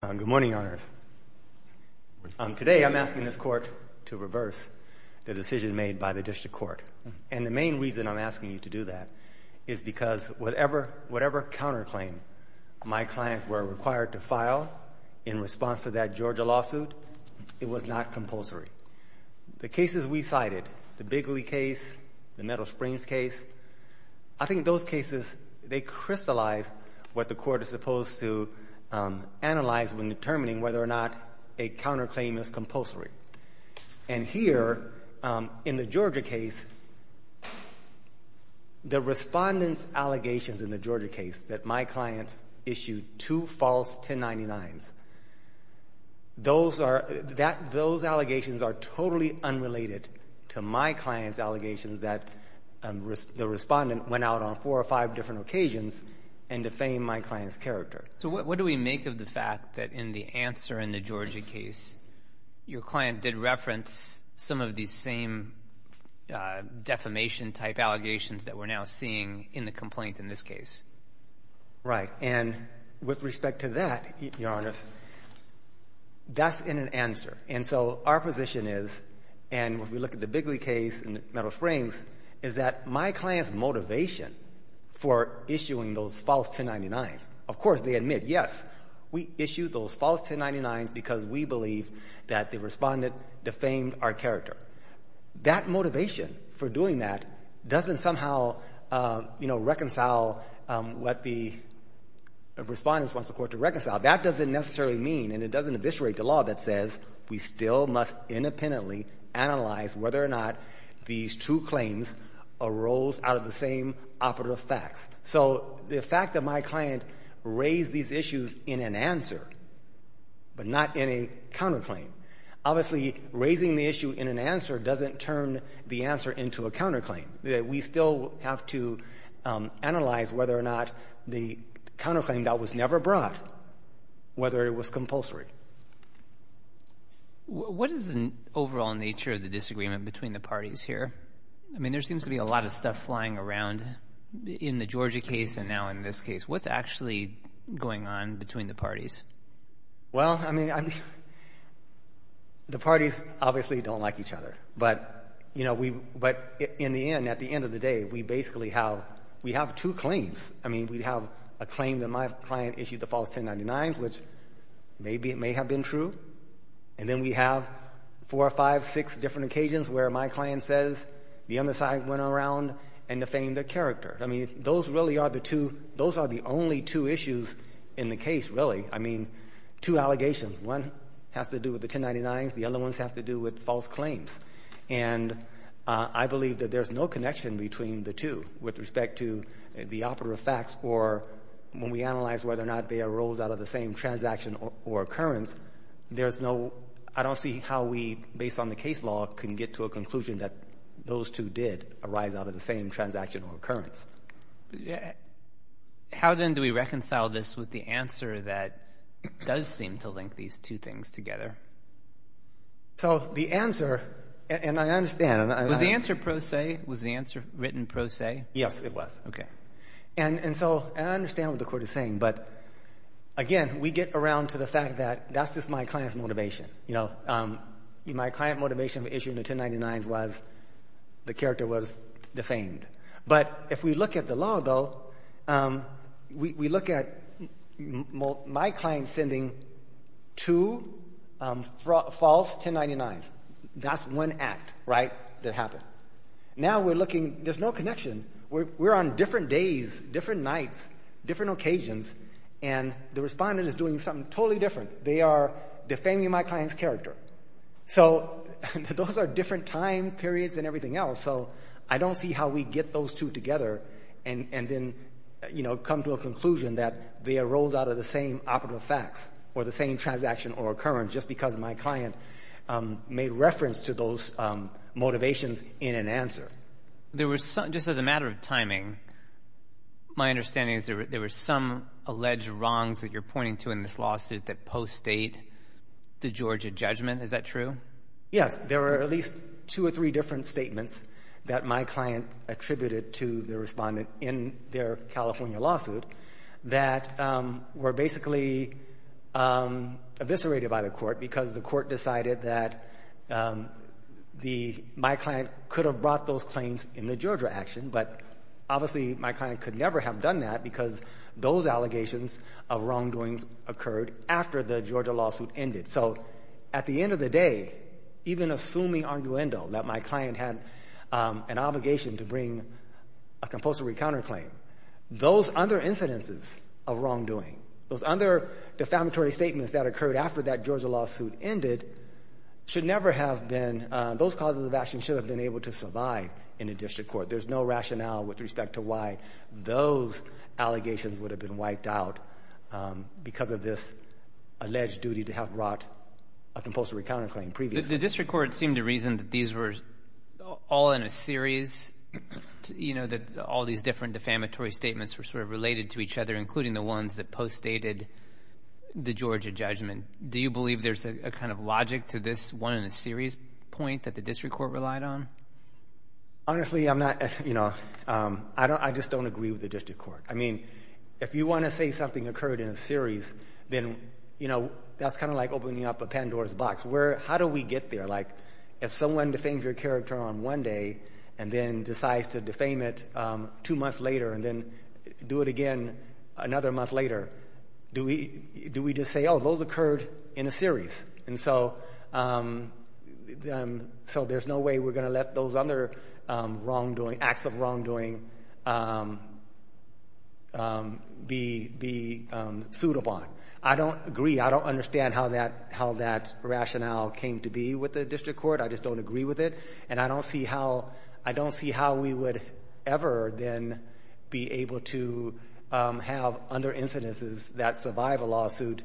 Good morning, Your Honors. Today I'm asking this Court to reverse the decision made by the District Court. And the main reason I'm asking you to do that is because whatever counterclaim my clients were required to file in response to that Georgia lawsuit, it was not compulsory. The cases we cited, the Bigley case, the Meadow Springs case, I think those cases, they crystallized what the Court is supposed to analyze when determining whether or not a counterclaim is compulsory. And here, in the Georgia case, the respondent's allegations in the Georgia case that my clients issued two false 1099s, those are, that, those allegations are totally unrelated to my client's allegations that the respondent went out on four or five different occasions and defamed my client's character. So what do we make of the fact that in the answer in the Georgia case, your client did reference some of these same defamation-type allegations that we're now seeing in the complaint in this case? Right. And with respect to that, Your Honor, that's an answer. And so our position is, and when we look at the Bigley case and the Meadow Springs, is that my client's motivation for issuing those false 1099s, of course, they admit, yes, we issued those false 1099s because we believe that the respondent defamed our character. That motivation for doing that doesn't somehow, you know, reconcile what the respondent wants the Court to reconcile. That doesn't necessarily mean, and it doesn't eviscerate the law that says we still must independently analyze whether or not these two claims arose out of the same operative facts. So the fact that my client raised these issues in an answer, but not in a counterclaim, obviously, raising the issue in an answer doesn't turn the answer into a counterclaim. We still have to analyze whether or not the counterclaim that was never brought, whether it was compulsory. What is the overall nature of the disagreement between the parties here? I mean, there seems to be a lot of stuff flying around in the Georgia case and now in this case. What's actually going on between the parties? Well, I mean, the parties obviously don't like each other. But, you know, we, but in the end, at the end of the day, we basically have, we have two claims. I mean, we have a claim that my client issued the false 1099s, which maybe it may have been true. And then we have four or five, six different occasions where my client says the other side went around and defamed their character. I mean, those really are the two, those are the only two issues in the case, really. I mean, two allegations. One has to do with the 1099s. The other ones have to do with false claims. And I believe that there's no connection between the two with respect to the operative facts or when we analyze whether or not they arose out of the same transaction or occurrence, there's no, I don't see how we, based on the case law, can get to a conclusion that those two did arise out of the same transaction or occurrence. Yeah. How then do we reconcile this with the answer that does seem to link these two things together? So, the answer, and I understand, and I... Was the answer pro se? Was the answer written pro se? Yes, it was. Okay. And, and so, and I understand what the court is saying, but again, we get around to the fact that that's just my client's motivation. You know, my client motivation for issuing the 1099s was the character was defamed. But if we look at the law, though, we look at my client sending two false 1099s. That's one act, right, that happened. Now we're looking, there's no connection. We're on different days, different nights, different occasions, and the respondent is doing something totally different. They are defaming my client's character. So, those are different time periods and everything else. So, I don't see how we get those two together and, and then, you know, come to a conclusion that they arose out of the same operative facts or the same transaction or occurrence just because my client made reference to those motivations in an answer. There were some, just as a matter of timing, my understanding is there were some alleged wrongs that you're pointing to in this lawsuit that post-state the Georgia judgment. Is that true? Yes. There were at least two or three different statements that my client attributed to the respondent in their California lawsuit that were basically eviscerated by the court because the court decided that the, my client could have brought those claims in the Georgia action, but obviously my client could never have done that because those allegations of wrongdoings occurred after the Georgia lawsuit ended. So, at the end of the day, even assuming arguendo that my client had an obligation to bring a compulsory counterclaim, those other incidences of wrongdoing, those other defamatory statements that occurred after that Georgia lawsuit ended should never have been, those causes of action should have been able to survive in a district court. There's no rationale with respect to why those allegations would have been wiped out because of this alleged duty to have brought a compulsory counterclaim previously. The district court seemed to reason that these were all in a series, you know, that all these different defamatory statements were sort of related to each other, including the ones that post-stated the Georgia judgment. Do you believe there's a kind of logic to this one in a series point that the district court relied on? Honestly, I'm not, you know, I just don't agree with the district court. I mean, if you want to say something occurred in a series, then, you know, that's kind of like opening up a Pandora's box. How do we get there? Like, if someone defames your character on one day and then decides to defame it two months later and then do it again another month later, do we just say, oh, those occurred in a series? And so, there's no way we're going to let those other wrongdoing, acts of wrongdoing be, be suitable. I don't agree. I don't understand how that, how that rationale came to be with the district court. I just don't agree with it. And I don't see how, I don't see how we would ever then be able to have other incidences that survive a lawsuit,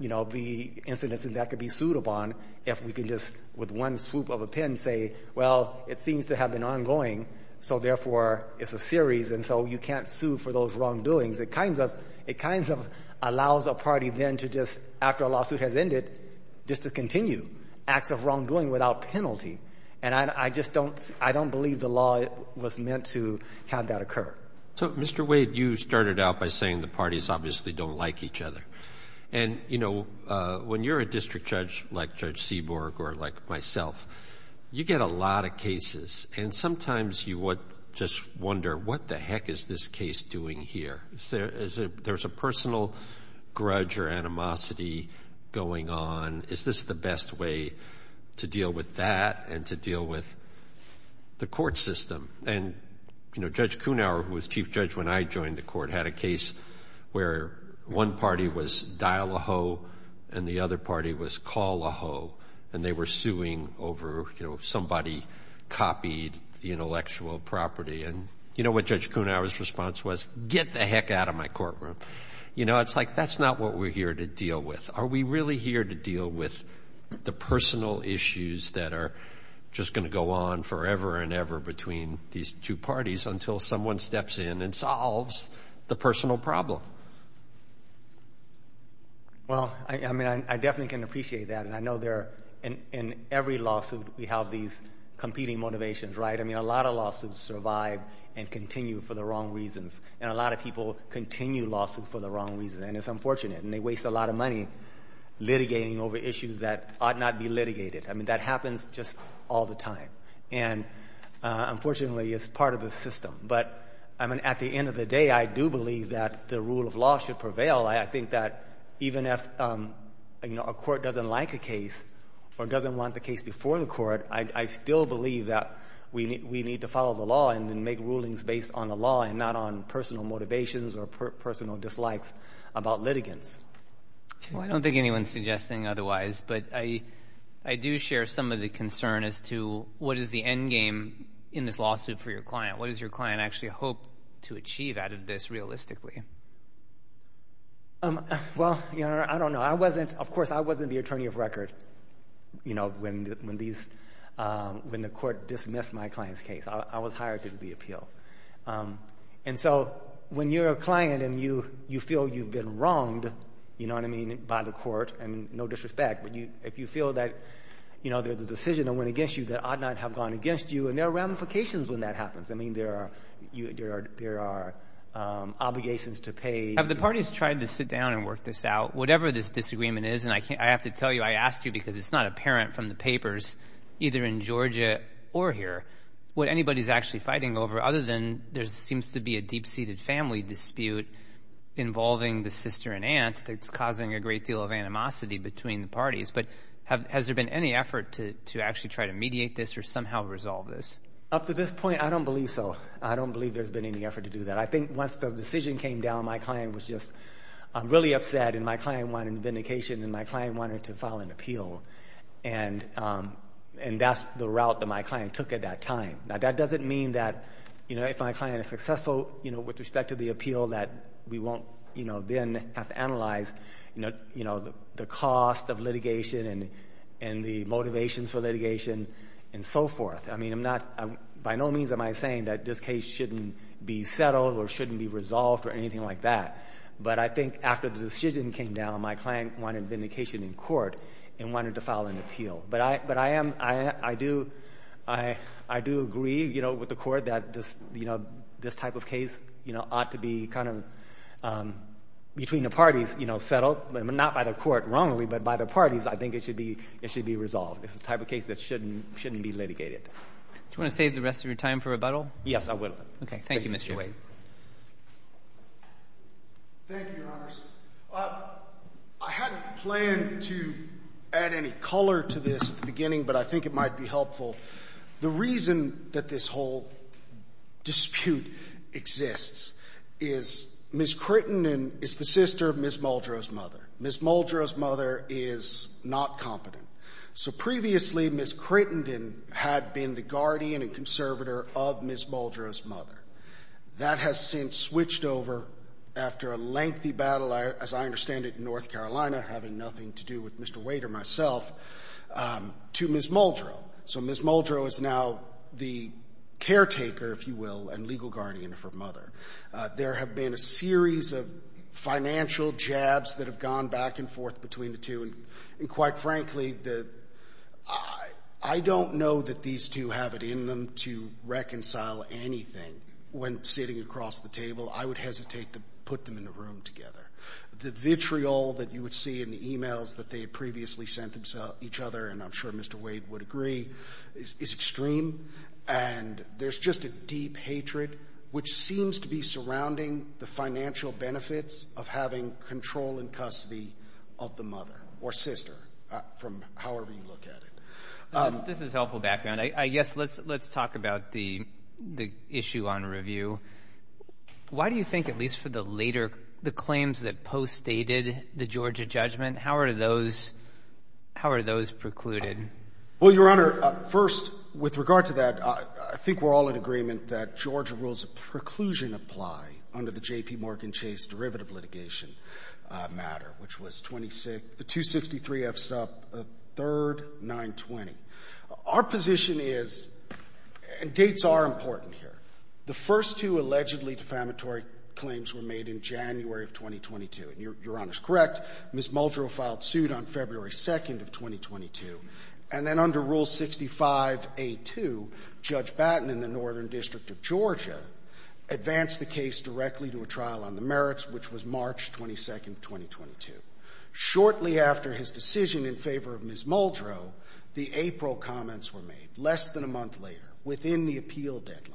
you know, be incidences that could be suitable on if we could just with one swoop of a pen say, well, it seems to have been ongoing, so, therefore, it's a series, and so you can't sue for those wrongdoings. It kind of, it kind of allows a party then to just, after a lawsuit has ended, just to continue acts of wrongdoing without penalty. And I, I just don't, I don't believe the law was meant to have that occur. Roberts. So, Mr. Wade, you started out by saying the parties obviously don't like each other. And, you know, when you're a district judge, like Judge Seaborg or like myself, you get a lot of cases. And sometimes you would just wonder, what the heck is this case doing here? Is there, there's a personal grudge or animosity going on? Is this the best way to deal with that and to deal with the court system? And, you know, Judge Kunauer, who was Chief Judge when I joined the court, had a case where one party was dial-a-ho and the other party was call-a-ho. And they were suing over, you know, somebody copied the intellectual property. And, you know, what Judge Kunauer's response was, get the heck out of my courtroom. You know, it's like, that's not what we're here to deal with. Are we really here to deal with the personal issues that are just going to go on forever and ever between these two parties until someone steps in and solves the personal problem? Well, I mean, I definitely can appreciate that. And I know there, in every lawsuit, we have these competing motivations, right? I mean, a lot of lawsuits survive and continue for the wrong reasons. And a lot of people continue lawsuits for the wrong reasons. And it's unfortunate. And they waste a lot of money litigating over issues that ought not be litigated. I mean, that happens just all the time. And unfortunately, it's part of the system. But, I mean, at the end of the day, I do believe that the rule of law should prevail. I think that even if, you know, a court doesn't like a case or doesn't want the case before the court, I still believe that we need to follow the law and make rulings based on the law and not on personal motivations or personal dislikes about litigants. Well, I don't think anyone's suggesting otherwise. But I do share some of the concern as to what is the endgame in this lawsuit for your client? What does your client actually hope to achieve out of this realistically? Well, you know, I don't know. I wasn't, of course, I wasn't the attorney of record, you know, when the court dismissed my client's case. I was hired to do the appeal. And so, when you're a client and you feel you've been wronged, you know what I mean, by the court, I mean, no disrespect, but if you feel that, you know, there's a decision that went against you that ought not have gone against you, and there are ramifications when that happens. I mean, there are obligations to pay. Have the parties tried to sit down and work this out? Whatever this disagreement is, and I have to tell you, I asked you because it's not apparent from the papers, either in Georgia or here, what anybody's actually fighting over, other than there seems to be a deep-seated family dispute involving the sister and aunt that's causing a great deal of animosity between the parties. But has there been any effort to actually try to mediate this or somehow resolve this? Up to this point, I don't believe so. I don't believe there's been any effort to do that. I think once the decision came down, my client was just really upset, and my client wanted vindication, and my client wanted to file an appeal. And that's the route that my client took at that time. Now, that doesn't mean that, you know, if my client is successful, you know, with respect to the appeal, that we won't, you know, then have to analyze, you know, the cost of litigation and the motivations for litigation and so forth. I mean, I'm not, by no means am I saying that this case shouldn't be settled or shouldn't be resolved or anything like that. But I think after the decision came down, my client wanted vindication in court and wanted to file an appeal. But I am, I do, I do agree, you know, with the court that this, you know, this type of case, you know, ought to be kind of between the parties, you know, settled. I mean, not by the court wrongly, but by the parties, I think it should be, it should be resolved. It's the type of case that shouldn't, shouldn't be litigated. Do you want to save the rest of your time for rebuttal? Yes, I will. Okay. Thank you, Mr. Wade. Thank you, Your Honors. I hadn't planned to add any color to this at the beginning, but I think it might be helpful. The reason that this whole dispute exists is Ms. Crittenden is the sister of Ms. Muldrow's mother. Ms. Muldrow's mother is not competent. So previously, Ms. Crittenden had been the guardian and conservator of Ms. Muldrow's mother. That has since switched over after a lengthy battle, as I understand it, in North Carolina myself, to Ms. Muldrow. So Ms. Muldrow is now the caretaker, if you will, and legal guardian of her mother. There have been a series of financial jabs that have gone back and forth between the two, and quite frankly, I don't know that these two have it in them to reconcile anything when sitting across the table. I would hesitate to put them in a room together. The vitriol that you would see in the emails that they had previously sent each other, and I'm sure Mr. Wade would agree, is extreme, and there's just a deep hatred, which seems to be surrounding the financial benefits of having control and custody of the mother, or sister, from however you look at it. This is helpful background. I guess let's talk about the issue on review. Why do you think, at least for the later, the claims that postdated the Georgia judgment, how are those precluded? Well, Your Honor, first, with regard to that, I think we're all in agreement that Georgia rules of preclusion apply under the J.P. Morgan Chase derivative litigation matter, which was 26 the 263 F. Sup. 3rd, 920. Our position is, and dates are important here, the first two allegedly defamatory claims were made in January of 2022. And Your Honor's correct. Ms. Muldrow filed suit on February 2nd of 2022. And then under Rule 65a2, Judge Batten in the Northern District of Georgia advanced the case directly to a trial on the merits, which was March 22nd, 2022. Shortly after his decision in favor of Ms. Muldrow, the April comments were made, less than a month later, within the appeal deadline,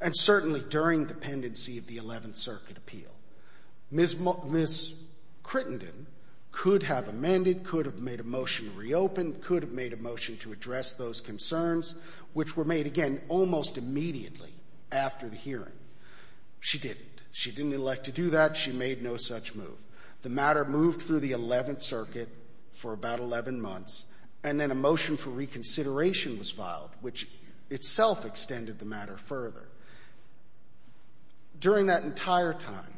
and certainly during the pendency of the 11th Circuit appeal. Ms. Crittenden could have amended, could have made a motion to reopen, could have made a motion to address those concerns, which were made again almost immediately after the hearing. She didn't. She didn't elect to do that. She made no such move. The matter moved through the 11th Circuit for about 11 months, and then a motion for reconsideration was filed, which itself extended the matter further. During that entire time,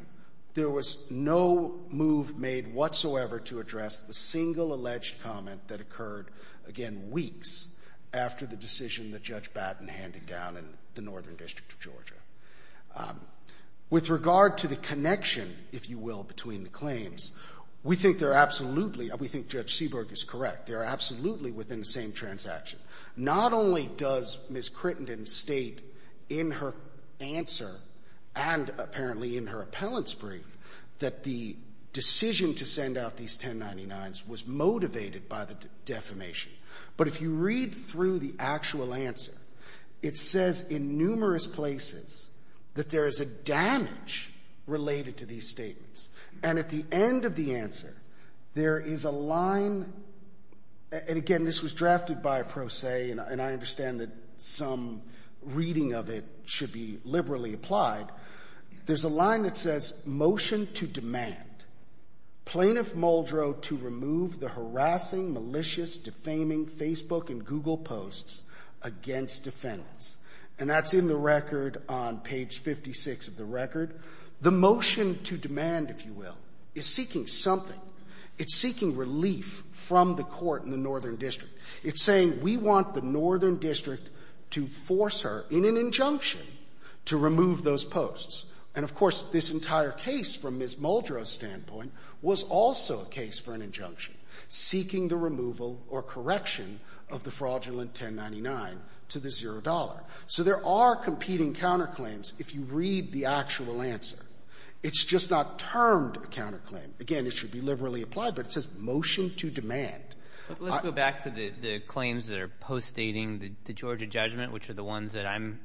there was no move made whatsoever to address the single alleged comment that occurred, again, weeks after the decision that Judge Batten handed down in the Northern District of Georgia. With regard to the connection, if you will, between the claims, we think they're absolutely we think Judge Seaborg is correct. They're absolutely within the same transaction. Not only does Ms. Crittenden state in her answer and apparently in her appellant's brief that the decision to send out these 1099s was motivated by the defamation, but if you read through the actual answer, it says in numerous places that there is a damage related to these statements. And at the end of the answer, there is a damage There's a line, and again, this was drafted by a pro se, and I understand that some reading of it should be liberally applied. There's a line that says, Motion to Demand. Plaintiff Muldrow to remove the harassing, malicious, defaming Facebook and Google posts against defendants. And that's in the record on page 56 of the record. The motion to demand, if you will, is seeking something. It's seeking relief from the court in the Northern District. It's saying we want the Northern District to force her in an injunction to remove those posts. And of course, this entire case from Ms. Muldrow's standpoint was also a case for an injunction seeking the removal or correction of the fraudulent 1099 to the zero dollar. So there are competing counterclaims. If you read the actual answer, it's just not termed a counterclaim. Again, it should be liberally applied, but it says motion to demand. Let's go back to the claims that are postdating the Georgia judgment, which are the ones that I'm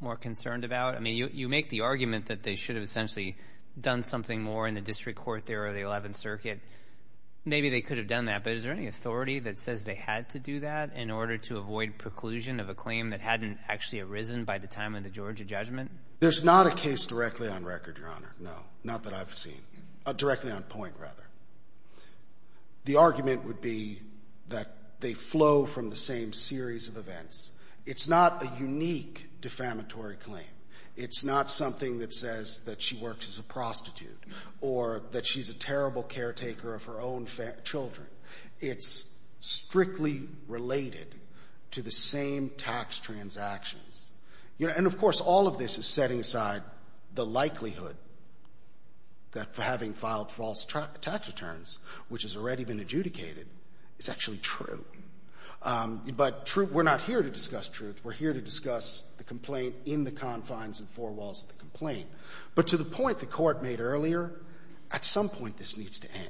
more concerned about. I mean, you make the argument that they should have essentially done something more in the district court there or the Eleventh Circuit. Maybe they could have done that, but is there any authority that says they had to do that in order to avoid preclusion of a claim that hadn't actually arisen by the time of the Georgia judgment? There's not a case directly on record, Your Honor. No, not that I've seen. Directly on point, rather. The argument would be that they flow from the same series of events. It's not a unique defamatory claim. It's not something that says that she works as a prostitute or that she's a terrible caretaker of her own children. It's strictly related to the same tax transactions. You know, and of course, all of this is setting aside the likelihood that for having filed false tax returns, which has already been adjudicated, it's actually true. But true, we're not here to discuss truth. We're here to discuss the complaint in the confines and four walls of the complaint. But to the point the Court made earlier, at some point this needs to end.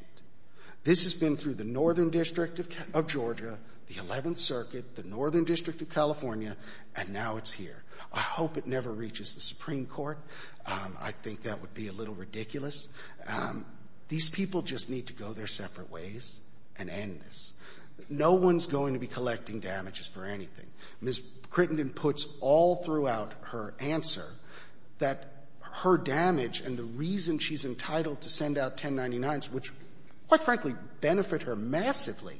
This has been through the Northern District of Georgia, the Eleventh Circuit, the Northern District of California, and now it's here. I hope it never reaches the Supreme Court. I think that would be a little ridiculous. These people just need to go their separate ways and end this. No one's going to be collecting damages for anything. Ms. Crittenden puts all throughout her answer that her damage and the reason she's entitled to send out 1099s, which, quite frankly, benefit her massively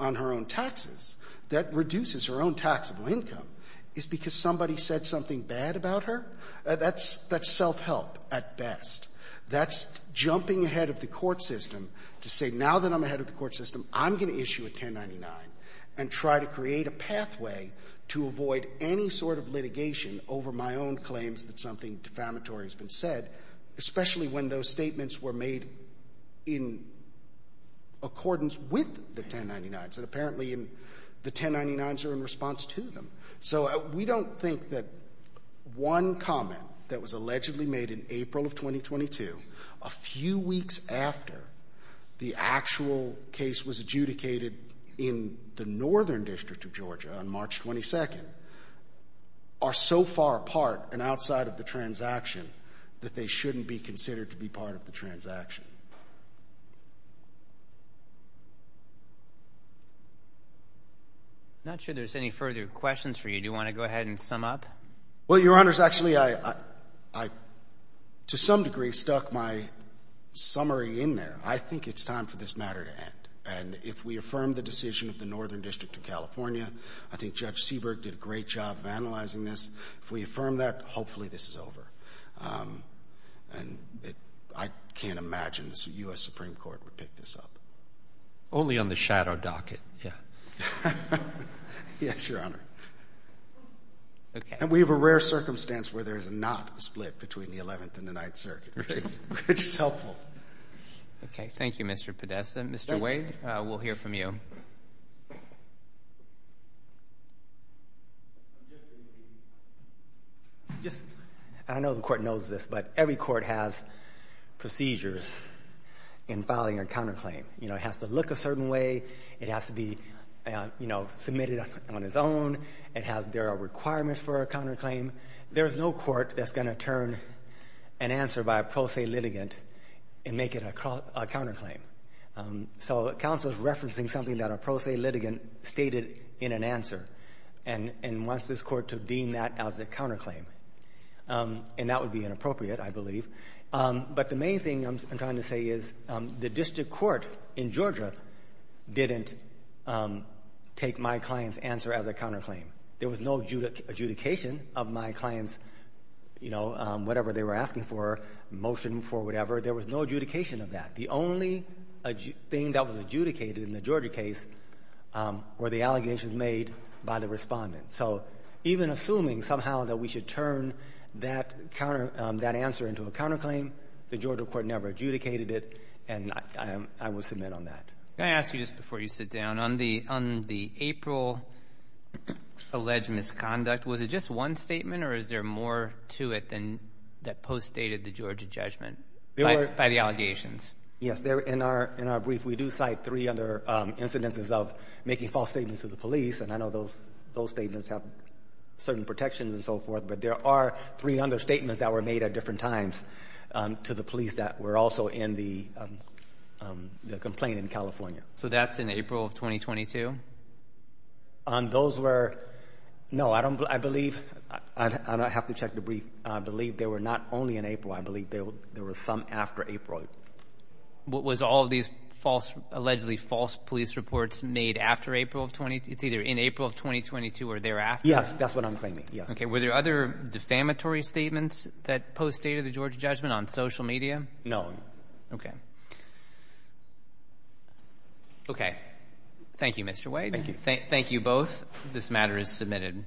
on her own taxes, that reduces her own taxable income, is because somebody said something bad about her. That's self-help at best. That's jumping ahead of the court system to say, now that I'm ahead of the court system, I'm going to issue a 1099 and try to create a pathway to avoid any sort of litigation over my own claims that something defamatory has been said, especially when those statements were made in accordance with the 1099s, and apparently the 1099s are in response to them. So we don't think that one comment that was allegedly made in April of 2022, a few weeks after the actual case was adjudicated in the state, that they shouldn't be considered to be part of the transaction. Not sure there's any further questions for you. Do you want to go ahead and sum up? Well, Your Honors, actually, I, to some degree, stuck my summary in there. I think it's time for this matter to end, and if we affirm the decision of the Northern District of California, I think Judge Seabrook did a great job of analyzing this. If we affirm that, hopefully this is over, and I can't imagine the U.S. Supreme Court would pick this up. Only on the shadow docket, yeah. Yes, Your Honor. And we have a rare circumstance where there is not a split between the Eleventh and the Ninth Circuit, which is helpful. Okay, thank you, Mr. Podesta. Mr. Wade, we'll hear from you. I know the Court knows this, but every court has procedures in filing a counterclaim. It has to look a certain way. It has to be submitted on its own. There are requirements for a counterclaim. There's no court that's going to turn an answer by a pro se litigant and make it a counterclaim. So counsel is referencing something that a pro se litigant stated in an answer and wants this Court to deem that as a counterclaim, and that would be inappropriate, I believe. But the main thing I'm trying to say is the district court in Georgia didn't take my client's answer as a counterclaim. There was no adjudication of my client's, you know, whatever they were asking for, motion for whatever. There was no adjudication of that. The only thing that was adjudicated in the Georgia case were the allegations made by the respondent. So even assuming somehow that we should turn that answer into a counterclaim, the Georgia Court never adjudicated it, and I will submit on that. Can I ask you just before you sit down, on the April alleged misconduct, was it just one statement, or is there more to it than that post-stated the Georgia judgment by the allegations? Yes, in our brief we do cite three other incidences of making false statements to the police, and I know those statements have certain protections and so forth, but there are three other statements that were made at different times to the police that were also in the complaint in California. So that's in April of 2022? Those were, no, I don't, I believe, I have to check the brief, I believe they were not only in April, I believe there were some after April. Was all of these false, allegedly false police reports made after April of, it's either in April of 2022 or thereafter? Yes, that's what I'm claiming, yes. Okay, were there other defamatory statements that post-stated the Georgia judgment on social media? No. Okay. Okay. Thank you, Mr. White. Thank you. Thank you both, this matter is submitted.